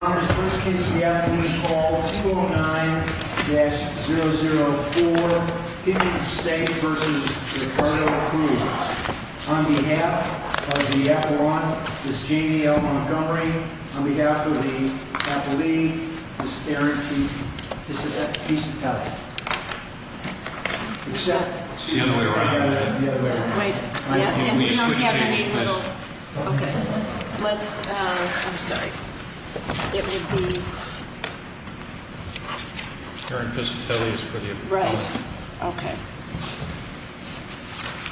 On behalf of the Aperon, Ms. Janie L. Montgomery, on behalf of the athlete, Ms. Erin T. Piscitelli. Is that the other way around? Yes, and we don't have any little... Okay, let's... I'm sorry. It would be... Erin Piscitelli is for the Aperon. Right. Okay.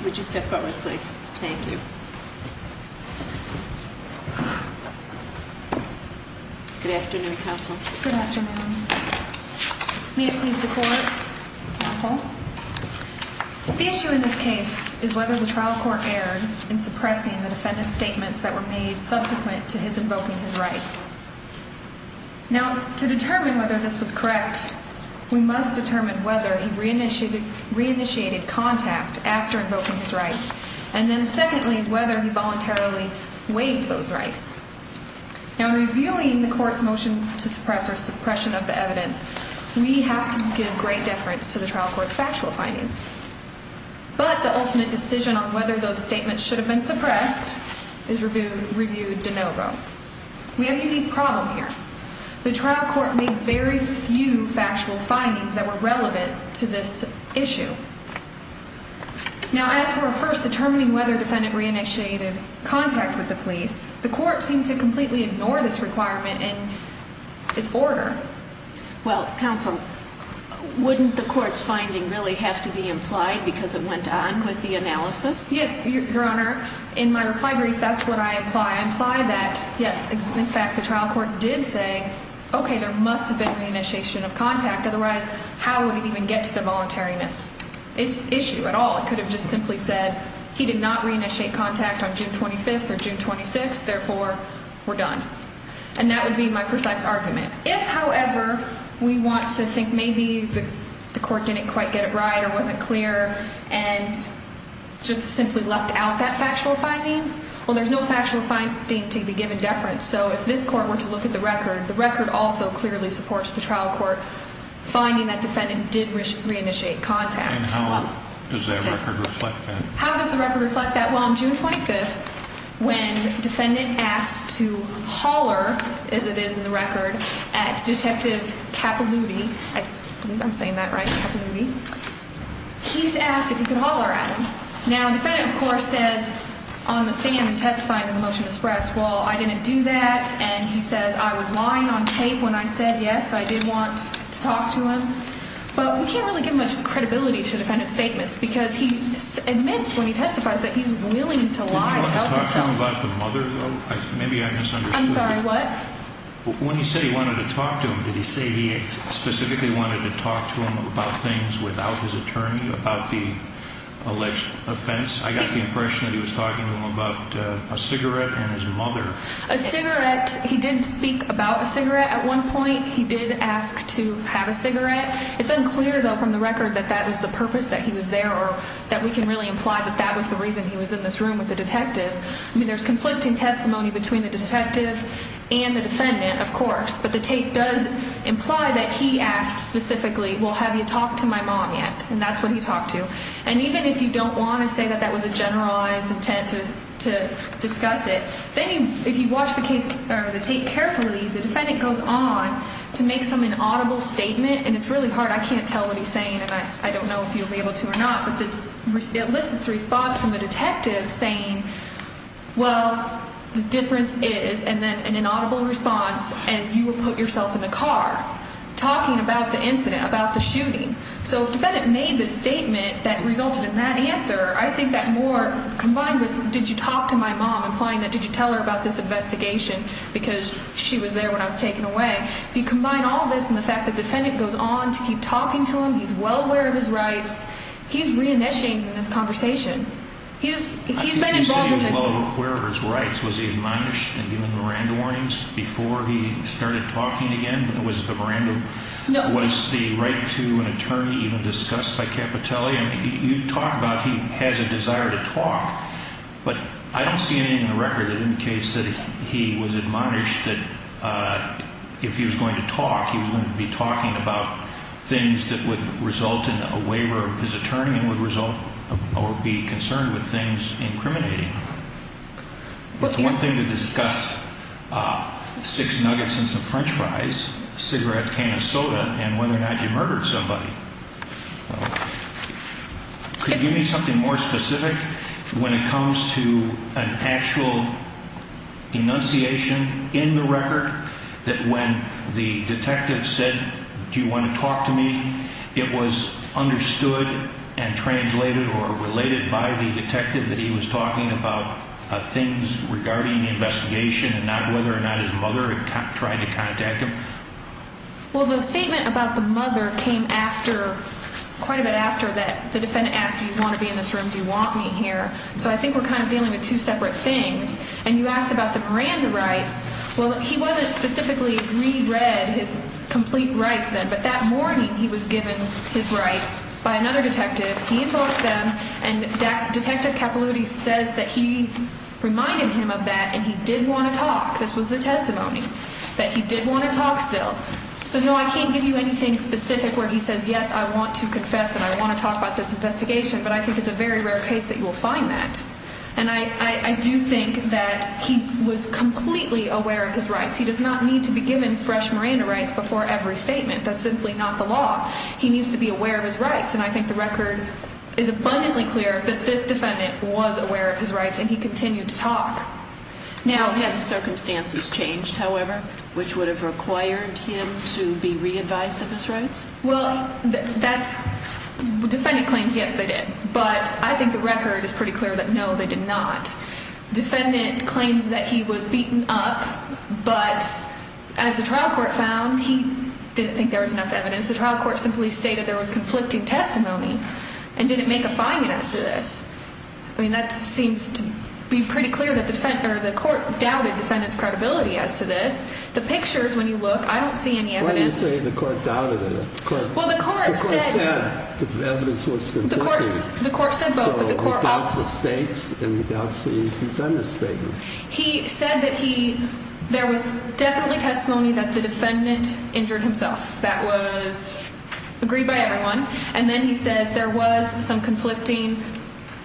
Would you step forward, please? Thank you. Good afternoon, counsel. Good afternoon. May it please the court. The issue in this case is whether the trial court erred in suppressing the defendant's statements that were made subsequent to his invoking his rights. Now, to determine whether this was correct, we must determine whether he re-initiated contact after invoking his rights, and then secondly, whether he voluntarily waived those rights. Now, in reviewing the court's motion to suppress or suppression of the evidence, we have to give great deference to the trial court's factual findings. But the ultimate decision on whether those statements should have been suppressed is reviewed de novo. We have a unique problem here. The trial court made very few factual findings that were relevant to this issue. Now, as for a first determining whether defendant re-initiated contact with the police, the court seemed to completely ignore this requirement in its order. Well, counsel, wouldn't the court's finding really have to be implied because it went on with the analysis? Yes, Your Honor. In my reply brief, that's what I imply. I imply that, yes, in fact, the trial court did say, okay, there must have been re-initiation of contact. Otherwise, how would it even get to the voluntariness issue at all? It could have just simply said he did not re-initiate contact on June 25th or June 26th. Therefore, we're done. And that would be my precise argument. If, however, we want to think maybe the court didn't quite get it right or wasn't clear and just simply left out that factual finding, well, there's no factual finding to be given deference. So if this court were to look at the record, the record also clearly supports the trial court finding that defendant did re-initiate contact. And how does that record reflect that? How does the record reflect that? Well, on June 25th, when defendant asked to holler, as it is in the record, at Detective Capilouti, I believe I'm saying that right, Capilouti, he's asked if he could holler at him. Now, the defendant, of course, says on the stand in testifying to the motion expressed, well, I didn't do that. And he says I was lying on tape when I said yes, I did want to talk to him. But we can't really give much credibility to defendant's statements because he admits when he testifies that he's willing to lie to help himself. Did he want to talk to him about the mother, though? Maybe I misunderstood. I'm sorry, what? When he said he wanted to talk to him, did he say he specifically wanted to talk to him about things without his attorney, about the alleged offense? I got the impression that he was talking to him about a cigarette and his mother. A cigarette, he did speak about a cigarette at one point. He did ask to have a cigarette. It's unclear, though, from the record that that was the purpose that he was there or that we can really imply that that was the reason he was in this room with the detective. I mean, there's conflicting testimony between the detective and the defendant, of course. But the tape does imply that he asked specifically, well, have you talked to my mom yet? And that's what he talked to. And even if you don't want to say that that was a generalized intent to discuss it, then if you watch the tape carefully, the defendant goes on to make some inaudible statement. And it's really hard. I can't tell what he's saying, and I don't know if you'll be able to or not. But it lists the response from the detective saying, well, the difference is, and then an inaudible response, and you will put yourself in the car talking about the incident, about the shooting. So if the defendant made the statement that resulted in that answer, I think that more combined with did you talk to my mom, implying that did you tell her about this investigation because she was there when I was taken away, if you combine all of this and the fact that the defendant goes on to keep talking to him, he's well aware of his rights, he's reinitiating this conversation. He's been involved with it. I think he said he was well aware of his rights. Was he admonished and given Miranda warnings before he started talking again? Was it the Miranda? No. Was the right to an attorney even discussed by Capitelli? I mean, you talk about he has a desire to talk, but I don't see anything in the record that indicates that he was admonished that if he was going to talk, he was going to be talking about things that would result in a waiver of his attorney and would result or be concerned with things incriminating. What's one thing to discuss? Six nuggets and some French fries, cigarette, can of soda, and whether or not you murdered somebody. Could you give me something more specific when it comes to an actual enunciation in the record that when the detective said, do you want to talk to me? It was understood and translated or related by the detective that he was talking about things regarding the investigation and not whether or not his mother tried to contact him. Well, the statement about the mother came after quite a bit after that. The defendant asked, do you want to be in this room? Do you want me here? So I think we're kind of dealing with two separate things. And you asked about the Miranda rights. Well, he wasn't specifically re-read his complete rights then, but that morning he was given his rights by another detective. He invoked them. And Detective Capilouti says that he reminded him of that and he did want to talk. This was the testimony that he did want to talk still. So, no, I can't give you anything specific where he says, yes, I want to confess and I want to talk about this investigation. But I think it's a very rare case that you will find that. And I do think that he was completely aware of his rights. He does not need to be given fresh Miranda rights before every statement. That's simply not the law. He needs to be aware of his rights. And I think the record is abundantly clear that this defendant was aware of his rights and he continued to talk. Now, had the circumstances changed, however, which would have required him to be re-advised of his rights? Well, that's – defendant claims, yes, they did. But I think the record is pretty clear that, no, they did not. Defendant claims that he was beaten up. But as the trial court found, he didn't think there was enough evidence. The trial court simply stated there was conflicting testimony and didn't make a finding as to this. I mean, that seems to be pretty clear that the court doubted defendant's credibility as to this. The pictures, when you look, I don't see any evidence. Why do you say the court doubted it? Well, the court said – The court said both, but the court also – So it doubts the states and it doubts the defendant's statement. He said that he – there was definitely testimony that the defendant injured himself. That was agreed by everyone. And then he says there was some conflicting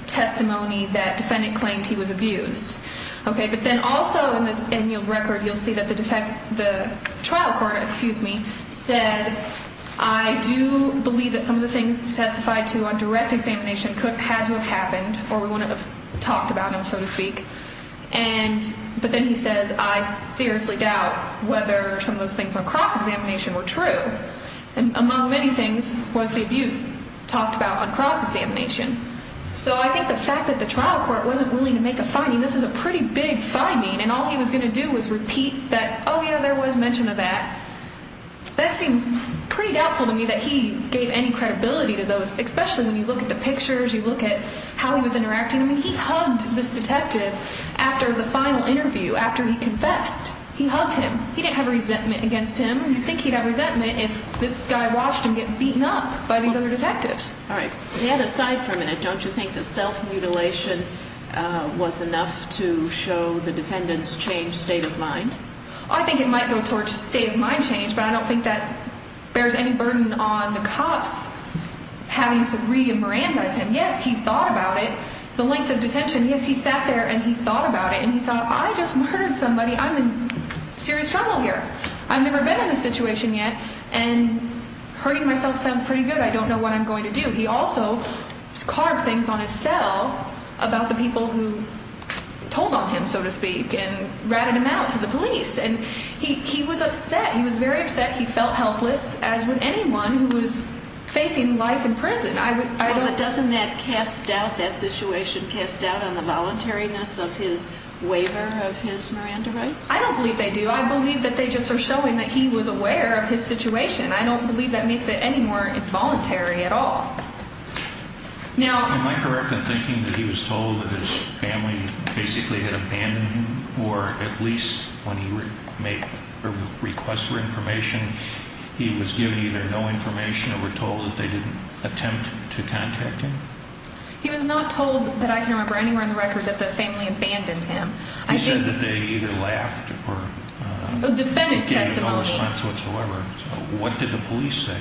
testimony that defendant claimed he was abused. Okay, but then also in the record you'll see that the trial court, excuse me, said, I do believe that some of the things testified to on direct examination had to have happened or we wouldn't have talked about him, so to speak. But then he says I seriously doubt whether some of those things on cross-examination were true. And among many things was the abuse talked about on cross-examination. So I think the fact that the trial court wasn't willing to make a finding, this is a pretty big finding, and all he was going to do was repeat that, oh, yeah, there was mention of that, that seems pretty doubtful to me that he gave any credibility to those, especially when you look at the pictures, you look at how he was interacting. I mean, he hugged this detective after the final interview, after he confessed. He hugged him. He didn't have resentment against him. You'd think he'd have resentment if this guy watched him get beaten up by these other detectives. All right. Ned, aside for a minute, don't you think the self-mutilation was enough to show the defendant's changed state of mind? I think it might go towards state of mind change, but I don't think that bears any burden on the cops having to re-emerandize him. Yes, he thought about it, the length of detention. Yes, he sat there and he thought about it and he thought I just murdered somebody. I'm in serious trouble here. I've never been in this situation yet, and hurting myself sounds pretty good. I don't know what I'm going to do. He also carved things on his cell about the people who told on him, so to speak, and ratted him out to the police, and he was upset. He was very upset. He felt helpless, as would anyone who was facing life in prison. Doesn't that cast doubt, that situation cast doubt on the voluntariness of his waiver of his Miranda rights? I don't believe they do. I believe that they just are showing that he was aware of his situation. I don't believe that makes it any more involuntary at all. Am I correct in thinking that he was told that his family basically had abandoned him, or at least when he made a request for information, he was given either no information or were told that they didn't attempt to contact him? He was not told that I can remember anywhere in the record that the family abandoned him. You said that they either laughed or gave no response whatsoever. What did the police say?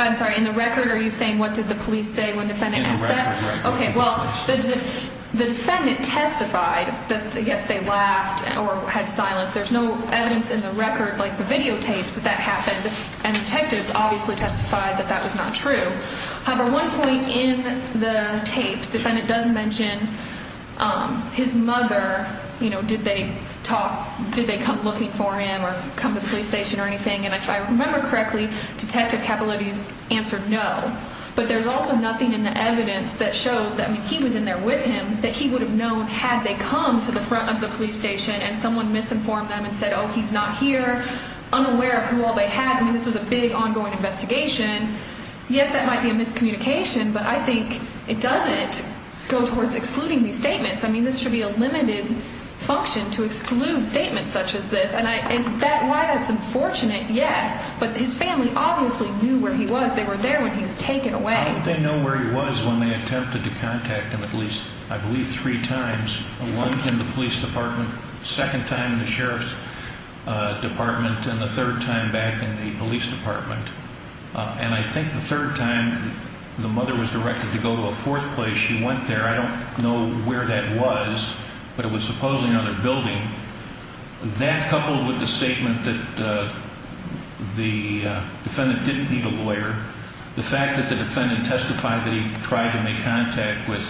I'm sorry. In the record, are you saying what did the police say when the defendant asked that? In the record, yes. Okay. Well, the defendant testified that, yes, they laughed or had silence. There's no evidence in the record, like the videotapes, that that happened, and detectives obviously testified that that was not true. However, one point in the tapes, the defendant does mention his mother. Did they come looking for him or come to the police station or anything? And if I remember correctly, Detective Capilouthi answered no. But there's also nothing in the evidence that shows that he was in there with him that he would have known had they come to the front of the police station and someone misinformed them and said, oh, he's not here, unaware of who all they had. I mean, this was a big ongoing investigation. Yes, that might be a miscommunication, but I think it doesn't go towards excluding these statements. I mean, this should be a limited function to exclude statements such as this. And why that's unfortunate, yes, but his family obviously knew where he was. They were there when he was taken away. They know where he was when they attempted to contact him at least, I believe, three times. One in the police department, second time in the sheriff's department, and the third time back in the police department. And I think the third time the mother was directed to go to a fourth place. She went there. I don't know where that was, but it was supposedly another building. That coupled with the statement that the defendant didn't need a lawyer, the fact that the defendant testified that he tried to make contact with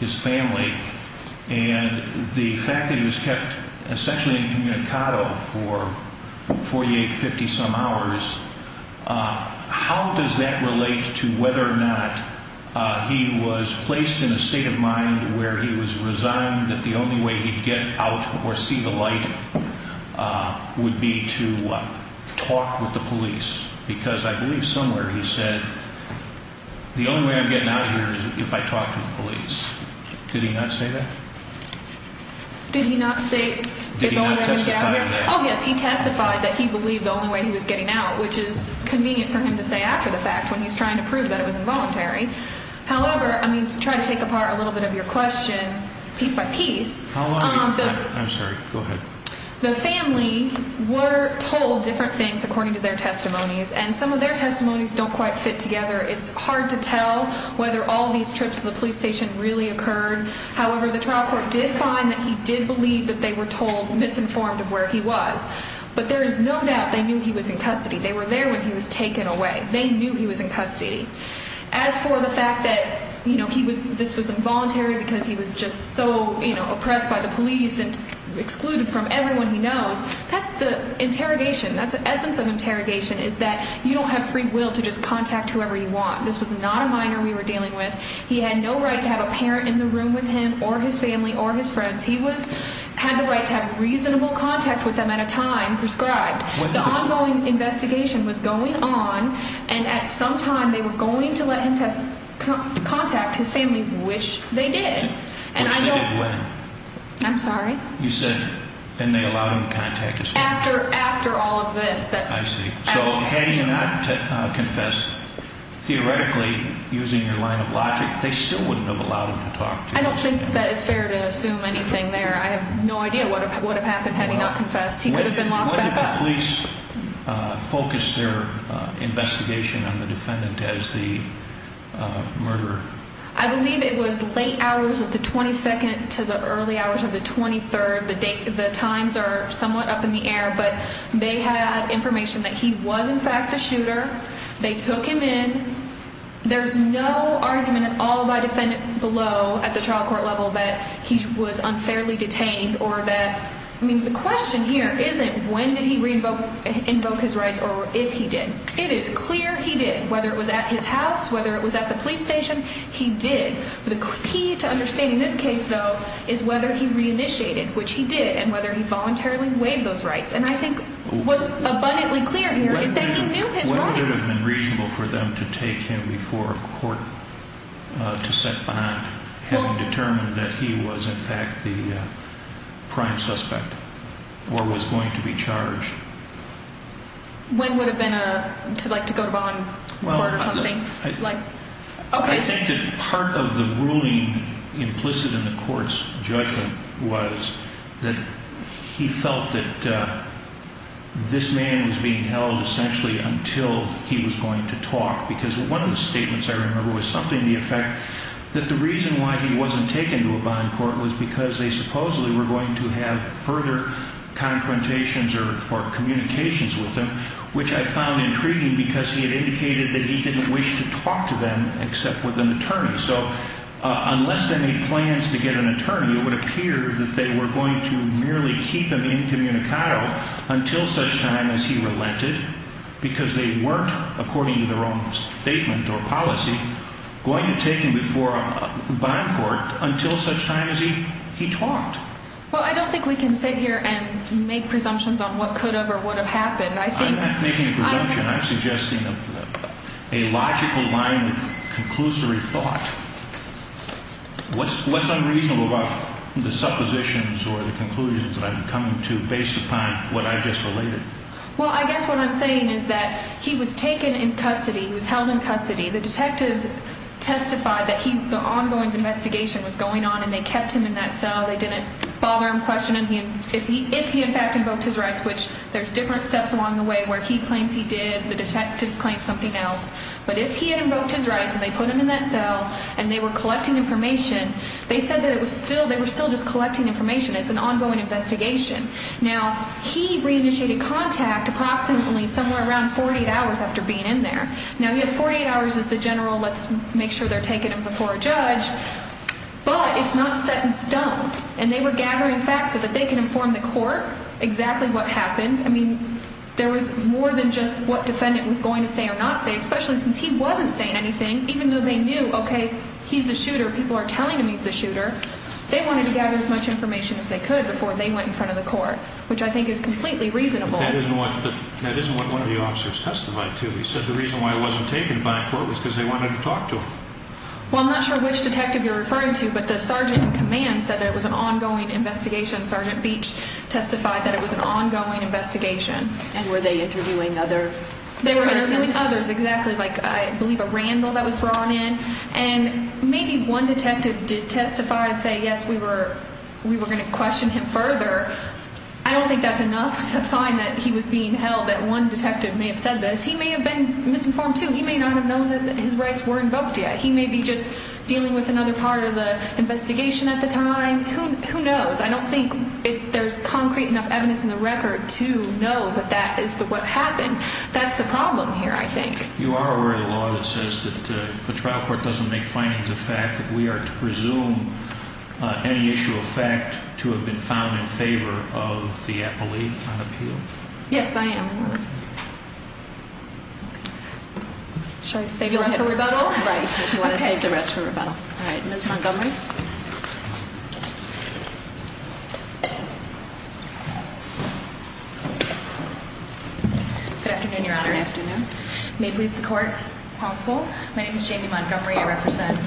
his family, and the fact that he was kept essentially incommunicado for 48, 50-some hours, how does that relate to whether or not he was placed in a state of mind where he was resigned that the only way he'd get out or see the light would be to talk with the police? Because I believe somewhere he said, the only way I'm getting out of here is if I talk to the police. Did he not say that? Did he not say if only I could get out of here? Did he not testify to that? Oh, yes, he testified that he believed the only way he was getting out, which is convenient for him to say after the fact when he's trying to prove that it was involuntary. However, I'm going to try to take apart a little bit of your question piece by piece. I'm sorry. Go ahead. The family were told different things according to their testimonies, and some of their testimonies don't quite fit together. It's hard to tell whether all these trips to the police station really occurred. However, the trial court did find that he did believe that they were told, misinformed of where he was. But there is no doubt they knew he was in custody. They were there when he was taken away. They knew he was in custody. As for the fact that this was involuntary because he was just so oppressed by the police and excluded from everyone he knows, that's the interrogation. That's the essence of interrogation is that you don't have free will to just contact whoever you want. This was not a minor we were dealing with. He had no right to have a parent in the room with him or his family or his friends. He had the right to have reasonable contact with them at a time prescribed. The ongoing investigation was going on, and at some time they were going to let him contact his family, which they did. Which they did when? I'm sorry? You said, and they allowed him to contact his family? After all of this. I see. So had he not confessed, theoretically, using your line of logic, they still wouldn't have allowed him to talk to you. I don't think that it's fair to assume anything there. I have no idea what would have happened had he not confessed. He could have been locked back up. When did the police focus their investigation on the defendant as the murderer? I believe it was late hours of the 22nd to the early hours of the 23rd. The times are somewhat up in the air, but they had information that he was, in fact, the shooter. They took him in. There's no argument at all by defendant below at the trial court level that he was unfairly detained. The question here isn't when did he invoke his rights or if he did. It is clear he did. Whether it was at his house, whether it was at the police station, he did. The key to understanding this case, though, is whether he reinitiated, which he did, and whether he voluntarily waived those rights. And I think what's abundantly clear here is that he knew his rights. It would have been reasonable for them to take him before a court to set bond, having determined that he was, in fact, the prime suspect or was going to be charged. When would it have been to go to bond court or something? I think that part of the ruling implicit in the court's judgment was that he felt that this man was being held, essentially, until he was going to talk. Because one of the statements I remember was something to the effect that the reason why he wasn't taken to a bond court was because they supposedly were going to have further confrontations or communications with him, which I found intriguing because he had indicated that he didn't wish to talk to them except with an attorney. It would appear that they were going to merely keep him incommunicado until such time as he relented because they weren't, according to their own statement or policy, going to take him before a bond court until such time as he talked. Well, I don't think we can sit here and make presumptions on what could have or would have happened. I'm not making a presumption. I'm suggesting a logical line of conclusory thought. What's unreasonable about the suppositions or the conclusions that I'm coming to based upon what I've just related? Well, I guess what I'm saying is that he was taken in custody, he was held in custody. The detectives testified that the ongoing investigation was going on and they kept him in that cell. They didn't bother him questioning him if he in fact invoked his rights, which there's different steps along the way where he claims he did, the detectives claim something else. But if he had invoked his rights and they put him in that cell and they were collecting information, they said that they were still just collecting information. It's an ongoing investigation. Now, he reinitiated contact approximately somewhere around 48 hours after being in there. Now, yes, 48 hours is the general let's make sure they're taking him before a judge, but it's not set in stone. And they were gathering facts so that they could inform the court exactly what happened. I mean, there was more than just what defendant was going to say or not say, especially since he wasn't saying anything, even though they knew, okay, he's the shooter, people are telling him he's the shooter. They wanted to gather as much information as they could before they went in front of the court, which I think is completely reasonable. That isn't what one of the officers testified to. He said the reason why he wasn't taken by court was because they wanted to talk to him. Well, I'm not sure which detective you're referring to, but the sergeant in command said that it was an ongoing investigation. Sergeant Beach testified that it was an ongoing investigation. And were they interviewing others? They were interviewing others, exactly, like I believe a randle that was brought in. And maybe one detective did testify and say, yes, we were going to question him further. I don't think that's enough to find that he was being held, that one detective may have said this. He may have been misinformed, too. He may not have known that his rights were invoked yet. He may be just dealing with another part of the investigation at the time. Who knows? I don't think there's concrete enough evidence in the record to know that that is what happened. That's the problem here, I think. You are aware of the law that says that if a trial court doesn't make findings of fact, that we are to presume any issue of fact to have been found in favor of the appellee on appeal? Yes, I am. Should I save the rest for rebuttal? Right, if you want to save the rest for rebuttal. All right, Ms. Montgomery? Good afternoon, Your Honors. Good afternoon. May it please the court, counsel. My name is Jamie Montgomery. I represent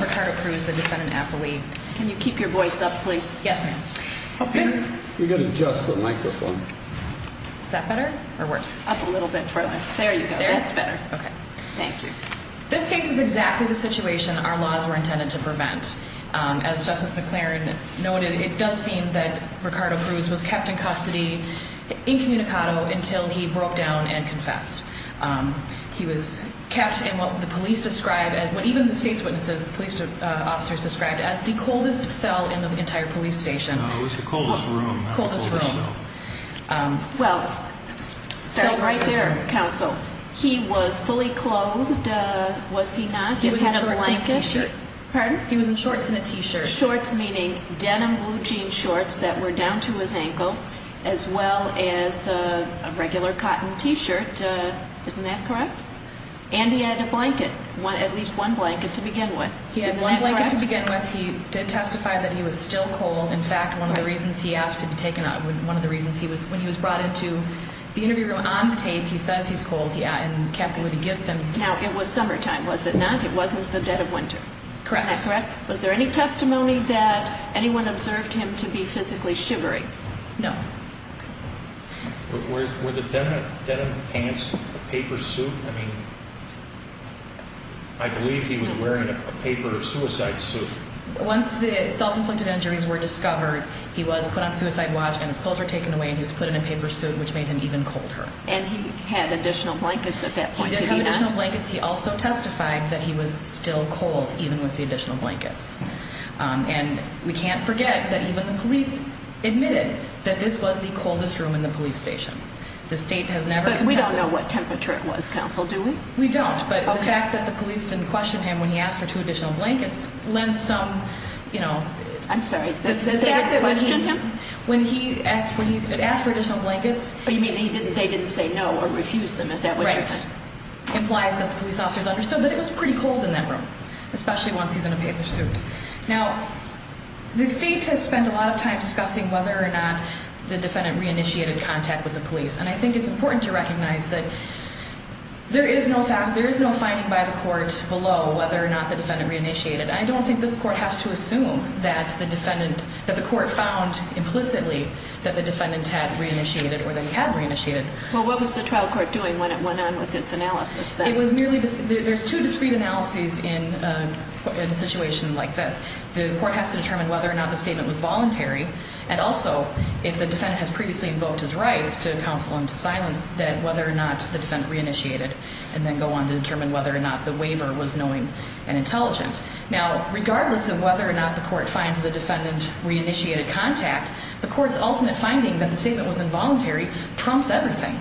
Ricardo Cruz, the defendant appellee. Can you keep your voice up, please? Yes, ma'am. You've got to adjust the microphone. Is that better or worse? Up a little bit further. There you go. That's better. Okay. Thank you. This case is exactly the situation our laws were intended to prevent. As Justice McLaren noted, it does seem that Ricardo Cruz was kept in custody, incommunicado, until he broke down and confessed. He was kept in what the police describe as, what even the state's witnesses, police officers describe as the coldest cell in the entire police station. No, it was the coldest room, not the coldest cell. Coldest room. Well, starting right there, counsel. He was fully clothed, was he not? He was in a short-sleeved shirt. Pardon? He was in shorts and a T-shirt. Shorts, meaning denim blue jean shorts that were down to his ankles, as well as a regular cotton T-shirt. Isn't that correct? And he had a blanket, at least one blanket to begin with. Isn't that correct? He had one blanket to begin with. He did testify that he was still cold. In fact, one of the reasons he asked to be taken out, one of the reasons he was, when he was brought into the interview room on tape, he says he's cold, yeah, and kept what he gives him. Now, it was summertime, was it not? It wasn't the dead of winter. Correct. Isn't that correct? Was there any testimony that anyone observed him to be physically shivery? No. Were the denim pants a paper suit? I mean, I believe he was wearing a paper suicide suit. Once the self-inflicted injuries were discovered, he was put on suicide watch and his clothes were taken away and he was put in a paper suit, which made him even colder. And he had additional blankets at that point, did he not? He had additional blankets. He also testified that he was still cold, even with the additional blankets. And we can't forget that even the police admitted that this was the coldest room in the police station. The state has never contested it. But we don't know what temperature it was, counsel, do we? We don't. But the fact that the police didn't question him when he asked for two additional blankets lent some, you know. I'm sorry. The fact that they didn't question him? When he asked for additional blankets. But you mean they didn't say no or refuse them, is that what you're saying? That implies that the police officers understood that it was pretty cold in that room, especially once he's in a paper suit. Now, the state has spent a lot of time discussing whether or not the defendant re-initiated contact with the police. And I think it's important to recognize that there is no finding by the court below whether or not the defendant re-initiated. I don't think this court has to assume that the defendant, that the court found implicitly that the defendant had re-initiated or that he had re-initiated. Well, what was the trial court doing when it went on with its analysis then? There's two discrete analyses in a situation like this. The court has to determine whether or not the statement was voluntary. And also, if the defendant has previously invoked his rights to counsel and to silence, then whether or not the defendant re-initiated. And then go on to determine whether or not the waiver was knowing and intelligent. Now, regardless of whether or not the court finds the defendant re-initiated contact, the court's ultimate finding that the statement was involuntary trumps everything.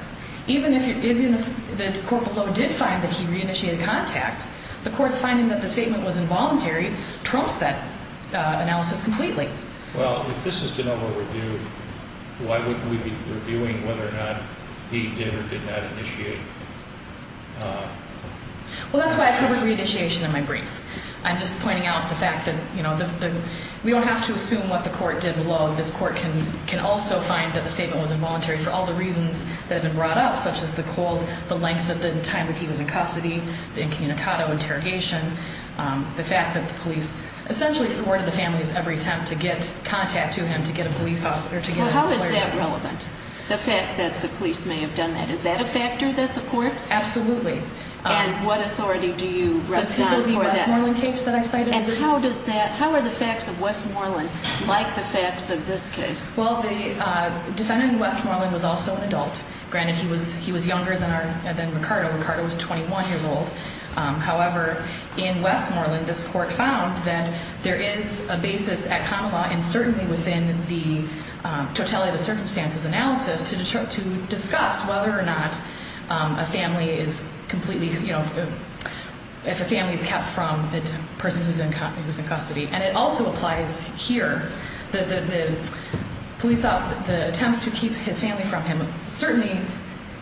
Even if the court below did find that he re-initiated contact, the court's finding that the statement was involuntary trumps that analysis completely. Well, if this has been over-reviewed, why wouldn't we be reviewing whether or not he did or did not initiate? Well, that's why I covered re-initiation in my brief. I'm just pointing out the fact that, you know, we don't have to assume what the court did below. This court can also find that the statement was involuntary for all the reasons that have been brought up, such as the length of the time that he was in custody, the incommunicado interrogation, the fact that the police essentially thwarted the family's every attempt to get contact to him to get a police officer to give him a lawyer's report. Well, how is that relevant, the fact that the police may have done that? Is that a factor that the courts? Absolutely. And what authority do you rest on for that? The Westmoreland case that I cited. And how are the facts of Westmoreland like the facts of this case? Well, the defendant in Westmoreland was also an adult. Granted, he was younger than Ricardo. Ricardo was 21 years old. However, in Westmoreland, this court found that there is a basis at common law, and certainly within the totality of the circumstances analysis, to discuss whether or not a family is completely, you know, if a family is kept from the person who's in custody. And it also applies here. The police, the attempts to keep his family from him certainly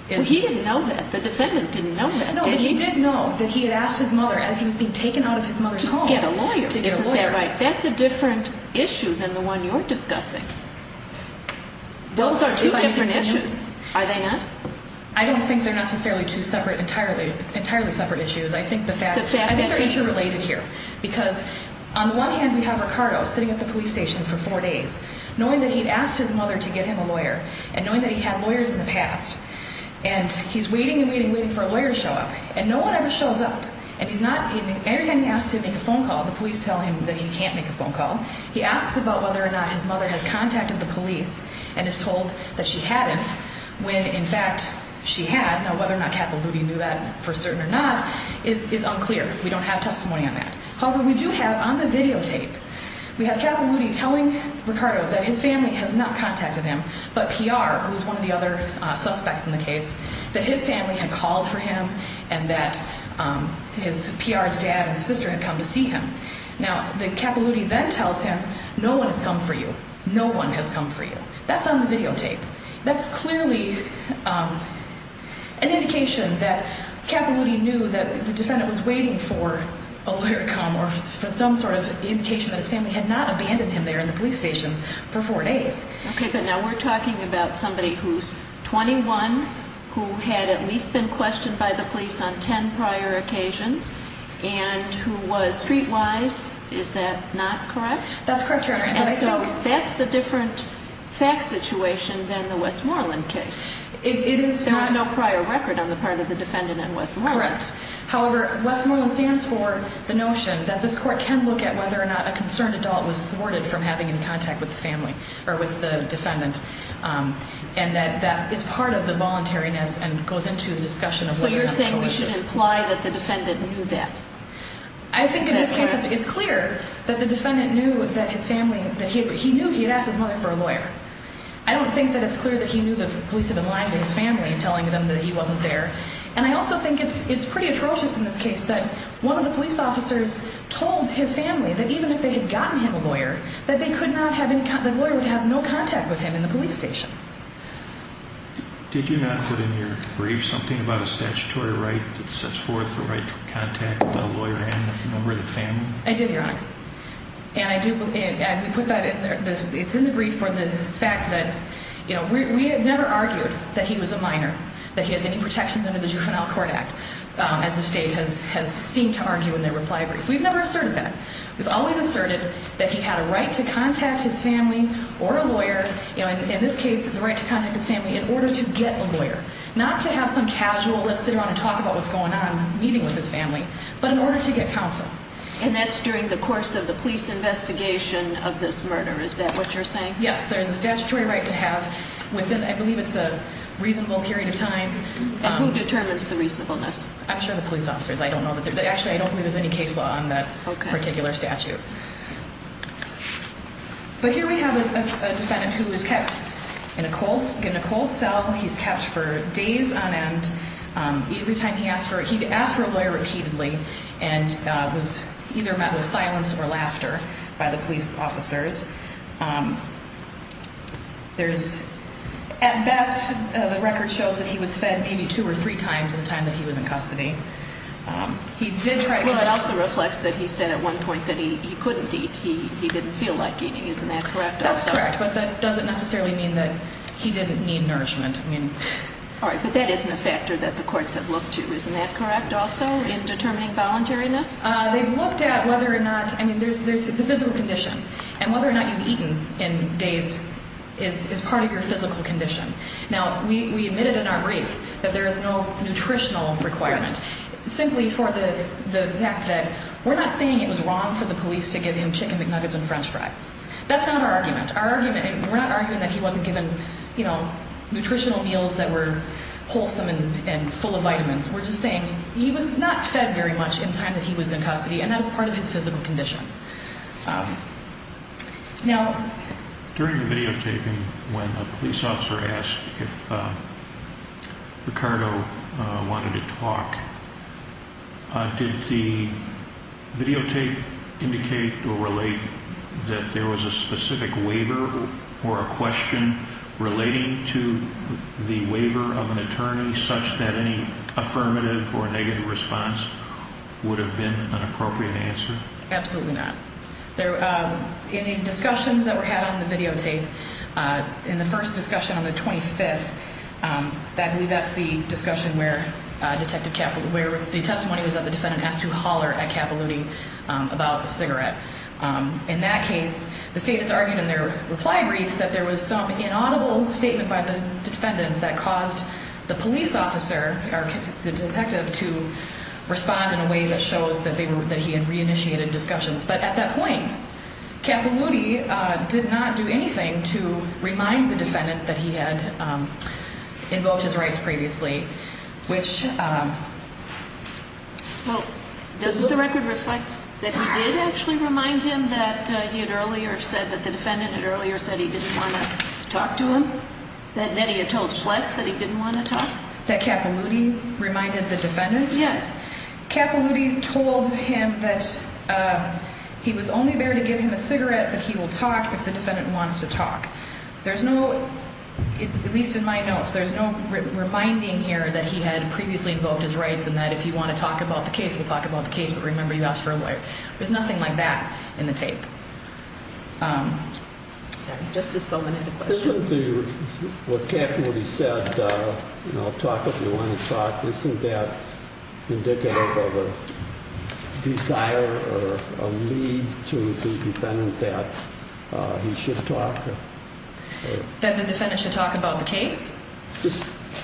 is. Well, he didn't know that. The defendant didn't know that. No, he did know that he had asked his mother as he was being taken out of his mother's home. To get a lawyer. Isn't that right? That's a different issue than the one you're discussing. Those are two different issues. Are they not? I don't think they're necessarily two separate, entirely separate issues. I think they're interrelated here. Because on the one hand, we have Ricardo sitting at the police station for four days, knowing that he'd asked his mother to get him a lawyer, and knowing that he had lawyers in the past. And he's waiting and waiting and waiting for a lawyer to show up. And no one ever shows up. And he's not, anytime he asks to make a phone call, the police tell him that he can't make a phone call. He asks about whether or not his mother has contacted the police and is told that she hadn't, when in fact she had. Now, whether or not Capilouti knew that for certain or not is unclear. We don't have testimony on that. However, we do have on the videotape, we have Capilouti telling Ricardo that his family has not contacted him, but PR, who's one of the other suspects in the case, that his family had called for him and that PR's dad and sister had come to see him. Now, Capilouti then tells him, no one has come for you. No one has come for you. That's on the videotape. That's clearly an indication that Capilouti knew that the defendant was waiting for a lawyer to come or for some sort of indication that his family had not abandoned him there in the police station for four days. Okay, but now we're talking about somebody who's 21, who had at least been questioned by the police on ten prior occasions, and who was streetwise. Is that not correct? That's correct, Your Honor. And so that's a different fact situation than the Westmoreland case. It is. There was no prior record on the part of the defendant in Westmoreland. Correct. However, Westmoreland stands for the notion that this court can look at whether or not a concerned adult was thwarted from having any contact with the family or with the defendant, and that it's part of the voluntariness and goes into the discussion of whether or not it's coerced. So you should imply that the defendant knew that. I think in this case it's clear that the defendant knew that his family, that he knew he had asked his mother for a lawyer. I don't think that it's clear that he knew the police had been lying to his family and telling them that he wasn't there. And I also think it's pretty atrocious in this case that one of the police officers told his family that even if they had gotten him a lawyer, that the lawyer would have no contact with him in the police station. Did you not put in your brief something about a statutory right that sets forth the right to contact a lawyer and a member of the family? I did, Your Honor. And I do put that in there. It's in the brief for the fact that, you know, we had never argued that he was a minor, that he has any protections under the Juvenile Court Act, as the state has seemed to argue in their reply brief. We've never asserted that. We've always asserted that he had a right to contact his family or a lawyer. You know, in this case, the right to contact his family in order to get a lawyer, not to have some casual let's sit around and talk about what's going on meeting with his family, but in order to get counsel. And that's during the course of the police investigation of this murder. Is that what you're saying? Yes. There is a statutory right to have within, I believe it's a reasonable period of time. And who determines the reasonableness? I'm sure the police officers. I don't know that they're there. Actually, I don't believe there's any case law on that particular statute. But here we have a defendant who was kept in a cold cell. He's kept for days on end. Every time he asked for, he asked for a lawyer repeatedly and was either met with silence or laughter by the police officers. There's, at best, the record shows that he was fed maybe two or three times in the time that he was in custody. Well, it also reflects that he said at one point that he couldn't eat. He didn't feel like eating. Isn't that correct? That's correct. But that doesn't necessarily mean that he didn't need nourishment. All right. But that isn't a factor that the courts have looked to. Isn't that correct also in determining voluntariness? They've looked at whether or not, I mean, there's the physical condition. And whether or not you've eaten in days is part of your physical condition. Now, we admitted in our brief that there is no nutritional requirement simply for the fact that we're not saying it was wrong for the police to give him Chicken McNuggets and French fries. That's not our argument. Our argument, we're not arguing that he wasn't given, you know, nutritional meals that were wholesome and full of vitamins. We're just saying he was not fed very much in the time that he was in custody, and that was part of his physical condition. Now, during the videotaping, when a police officer asked if Ricardo wanted to talk, did the videotape indicate or relate that there was a specific waiver or a question relating to the waiver of an attorney such that any affirmative or negative response would have been an appropriate answer? Absolutely not. In the discussions that were had on the videotape, in the first discussion on the 25th, I believe that's the discussion where the testimony was that the defendant asked to holler at Capilouti about the cigarette. In that case, the state has argued in their reply brief that there was some inaudible statement by the defendant that caused the police officer, or the detective, to respond in a way that shows that he had reinitiated discussions. But at that point, Capilouti did not do anything to remind the defendant that he had invoked his rights previously, which… Well, doesn't the record reflect that he did actually remind him that he had earlier said, that the defendant had earlier said he didn't want to talk to him? That he had told Schlitz that he didn't want to talk? That Capilouti reminded the defendant? Yes. Capilouti told him that he was only there to give him a cigarette, but he will talk if the defendant wants to talk. There's no, at least in my notes, there's no reminding here that he had previously invoked his rights and that if you want to talk about the case, we'll talk about the case, but remember, you asked for a lawyer. There's nothing like that in the tape. Sorry, just to spell the name of the question. Isn't the, what Capilouti said, you know, talk if you want to talk, isn't that indicative of a desire or a need to the defendant that he should talk? That the defendant should talk about the case?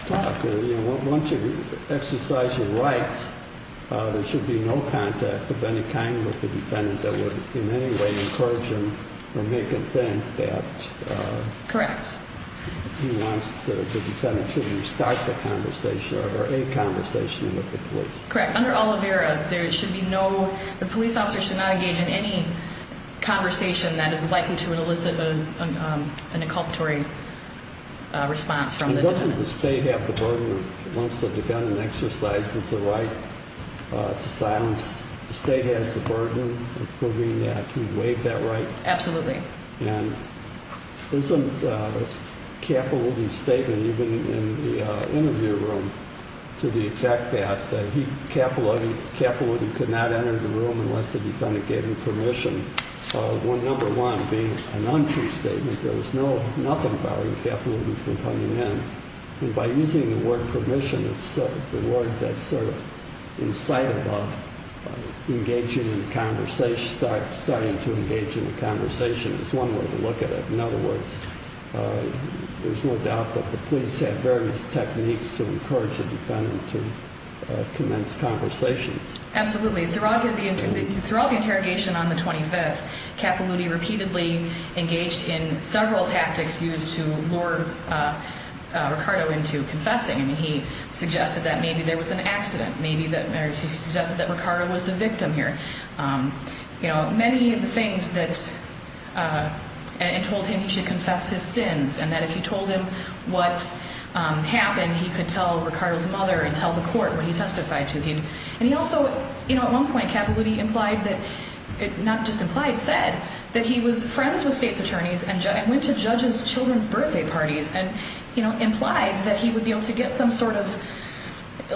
Once you exercise your rights, there should be no contact of any kind with the defendant that would in any way encourage him or make him think that he wants to, the defendant should restart the conversation or a conversation with the police. Correct. Under Oliveira, there should be no, the police officer should not engage in any conversation that is likely to elicit an inculpatory response from the defendant. Doesn't the state have the burden, once the defendant exercises the right to silence, the state has the burden of proving that he waived that right? Absolutely. And isn't Capilouti's statement, even in the interview room, to the effect that he, Capilouti could not enter the room unless the defendant gave him permission, when number one being an untrue statement, there was nothing barring Capilouti from coming in. And by using the word permission, it's the word that's sort of in sight of engaging in a conversation, starting to engage in a conversation is one way to look at it. In other words, there's no doubt that the police have various techniques to encourage a defendant to commence conversations. Absolutely. Throughout the interrogation on the 25th, Capilouti repeatedly engaged in several tactics used to lure Ricardo into confessing. He suggested that maybe there was an accident. He suggested that Ricardo was the victim here. Many of the things that, and told him he should confess his sins, and that if you told him what happened, he could tell Ricardo's mother and tell the court what he testified to. And he also, you know, at one point, Capilouti implied that, not just implied, said that he was friends with state's attorneys and went to judges' children's birthday parties and, you know, implied that he would be able to get some sort of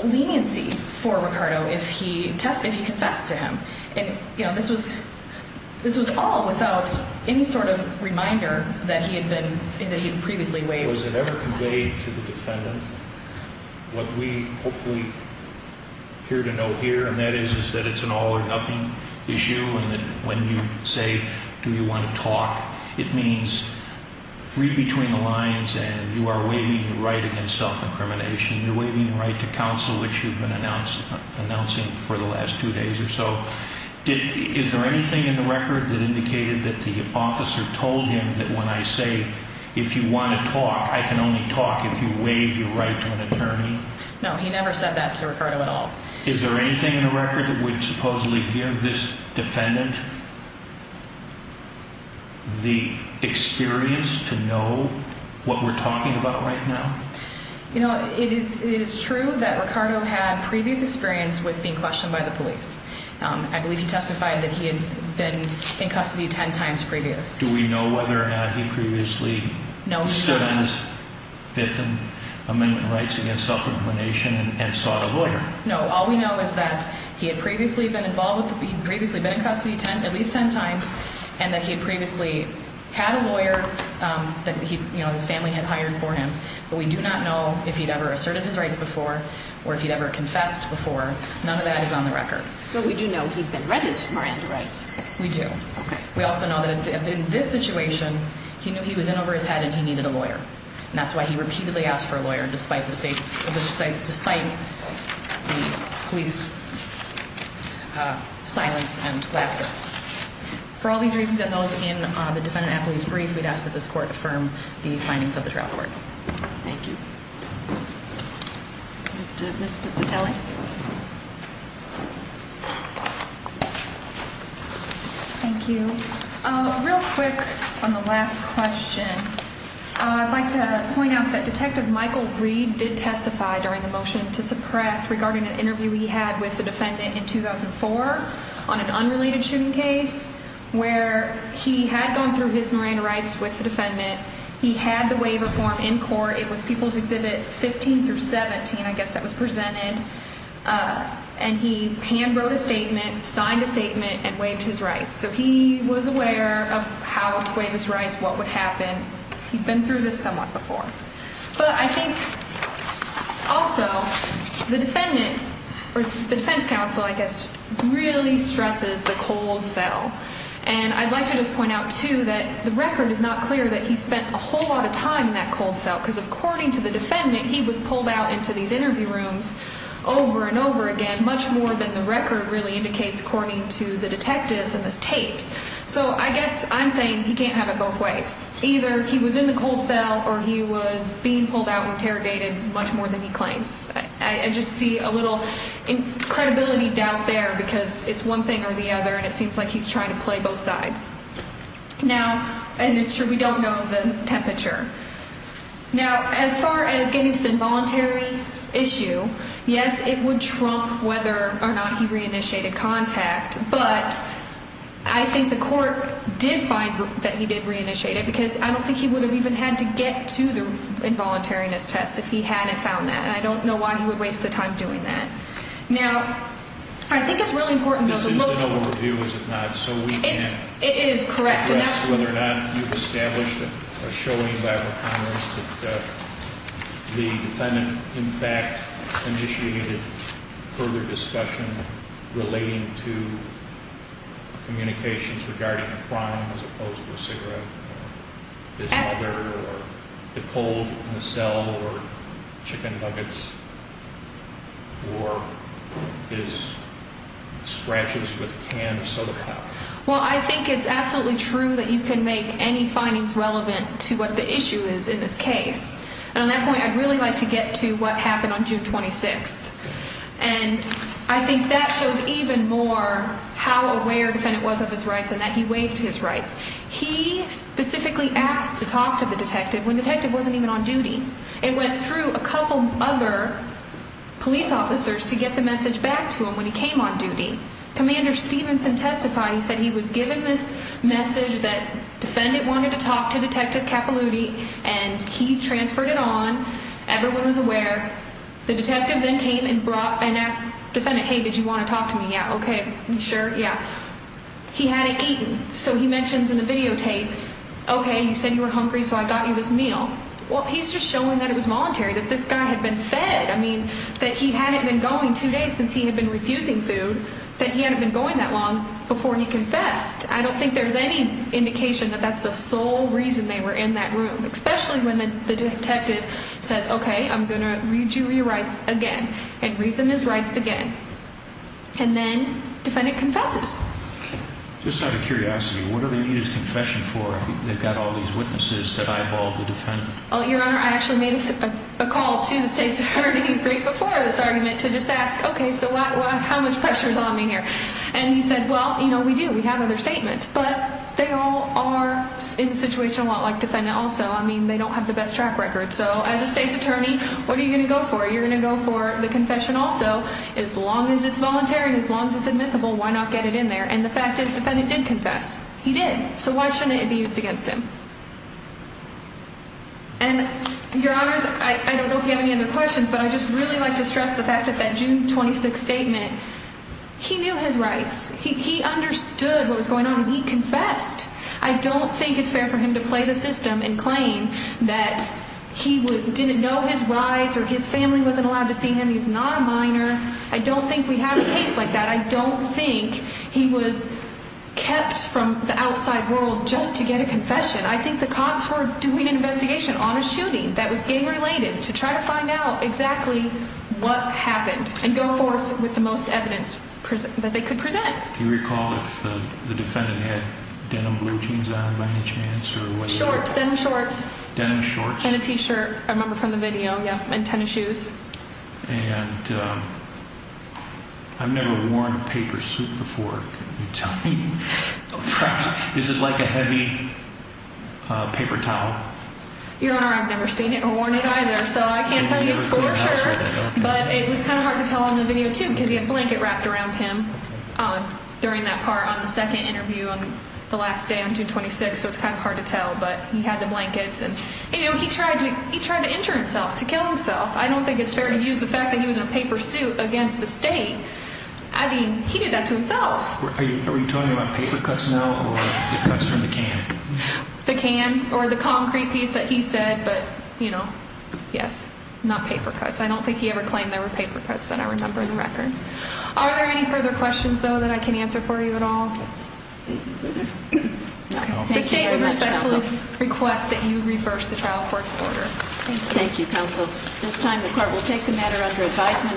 leniency for Ricardo if he confessed to him. And, you know, this was all without any sort of reminder that he had been, that he had previously waived. Was it ever conveyed to the defendant what we hopefully appear to know here, and that is that it's an all or nothing issue and that when you say, do you want to talk, it means read between the lines and you are waiving your right against self-incrimination. You're waiving your right to counsel, which you've been announcing for the last two days or so. Is there anything in the record that indicated that the officer told him that when I say, if you want to talk, I can only talk if you waive your right to an attorney? No, he never said that to Ricardo at all. Is there anything in the record that would supposedly give this defendant the experience to know what we're talking about right now? You know, it is true that Ricardo had previous experience with being questioned by the police. I believe he testified that he had been in custody ten times previous. Do we know whether or not he previously stood on his Fifth Amendment rights against self-incrimination and sought a lawyer? No, all we know is that he had previously been involved with, he had previously been in custody at least ten times and that he had previously had a lawyer that his family had hired for him, but we do not know if he'd ever asserted his rights before or if he'd ever confessed before. None of that is on the record. But we do know he'd been registered for anti-rights. We do. Okay. We also know that in this situation, he knew he was in over his head and he needed a lawyer. And that's why he repeatedly asked for a lawyer despite the state's, despite the police silence and laughter. For all these reasons and those in the defendant-applicant's brief, we'd ask that this court affirm the findings of the trial court. Thank you. Ms. Piscitelli. Thank you. Real quick on the last question, I'd like to point out that Detective Michael Reed did testify during the motion to suppress regarding an interview he had with the defendant in 2004 on an unrelated shooting case where he had gone through his marine rights with the defendant. He had the waiver form in court. It was People's Exhibit 15 through 17, I guess, that was presented. And he handwrote a statement, signed a statement, and waived his rights. So he was aware of how to waive his rights, what would happen. He'd been through this somewhat before. But I think also the defendant, or the defense counsel, I guess, really stresses the cold cell. And I'd like to just point out, too, that the record is not clear that he spent a whole lot of time in that cold cell because according to the defendant, he was pulled out into these interview rooms over and over again, much more than the record really indicates according to the detectives and the tapes. So I guess I'm saying he can't have it both ways. Either he was in the cold cell or he was being pulled out and interrogated much more than he claims. I just see a little credibility doubt there because it's one thing or the other, and it seems like he's trying to play both sides. Now, and it's true, we don't know the temperature. Now, as far as getting to the involuntary issue, yes, it would trump whether or not he reinitiated contact. But I think the court did find that he did reinitiate it because I don't think he would have even had to get to the involuntariness test if he hadn't found that. And I don't know why he would waste the time doing that. Now, I think it's really important, though. This is an overview, is it not, so we can't address whether or not you've established or showing by the Congress that the defendant, in fact, initiated further discussion relating to communications regarding a crime as opposed to a cigarette or his mother or the cold in the cell or chicken nuggets or his scratches with a can of soda powder. Well, I think it's absolutely true that you can make any findings relevant to what the issue is in this case. And on that point, I'd really like to get to what happened on June 26th. And I think that shows even more how aware the defendant was of his rights and that he waived his rights. He specifically asked to talk to the detective when the detective wasn't even on duty. It went through a couple other police officers to get the message back to him when he came on duty. Commander Stevenson testified. He said he was given this message that the defendant wanted to talk to Detective Capilouti, and he transferred it on. Everyone was aware. The detective then came and asked the defendant, hey, did you want to talk to me? Yeah, okay. You sure? Yeah. He hadn't eaten. So he mentions in the videotape, okay, you said you were hungry, so I got you this meal. Well, he's just showing that it was voluntary, that this guy had been fed. I mean, that he hadn't been going two days since he had been refusing food, that he hadn't been going that long before he confessed. I don't think there's any indication that that's the sole reason they were in that room, especially when the detective says, okay, I'm going to read you your rights again and read them as rights again. And then the defendant confesses. Just out of curiosity, what do they need his confession for if they've got all these witnesses that eyeball the defendant? Your Honor, I actually made a call to the state's attorney right before this argument to just ask, okay, so how much pressure is on me here? And he said, well, you know, we do, we have other statements. But they all are in a situation a lot like the defendant also. I mean, they don't have the best track record. So as a state's attorney, what are you going to go for? You're going to go for the confession also. As long as it's voluntary and as long as it's admissible, why not get it in there? And the fact is, the defendant did confess. He did. So why shouldn't it be used against him? And, Your Honors, I don't know if you have any other questions, but I'd just really like to stress the fact that that June 26th statement, he knew his rights. He understood what was going on, and he confessed. I don't think it's fair for him to play the system and claim that he didn't know his rights or his family wasn't allowed to see him, he's not a minor. I don't think we have a case like that. I don't think he was kept from the outside world just to get a confession. I think the cops were doing an investigation on a shooting that was gang-related to try to find out exactly what happened and go forth with the most evidence that they could present. Do you recall if the defendant had denim blue jeans on by any chance? Shorts, denim shorts. Denim shorts? And a t-shirt, I remember from the video, yeah, and tennis shoes. And I've never worn a paper suit before. Can you tell me? Is it like a heavy paper towel? Your Honor, I've never seen it or worn it either, so I can't tell you for sure. But it was kind of hard to tell in the video, too, because he had a blanket wrapped around him during that part on the second interview on the last day on June 26th, so it's kind of hard to tell, but he had the blankets. And, you know, he tried to injure himself, to kill himself. I don't think it's fair to use the fact that he was in a paper suit against the state. I mean, he did that to himself. Are you talking about paper cuts now or cuts from the can? The can or the concrete piece that he said, but, you know, yes, not paper cuts. I don't think he ever claimed there were paper cuts that I remember in the record. Are there any further questions, though, that I can answer for you at all? No. Thank you very much, counsel. The case would respectfully request that you reverse the trial court's order. Thank you. Thank you, counsel. At this time, the court will take the matter under advisement.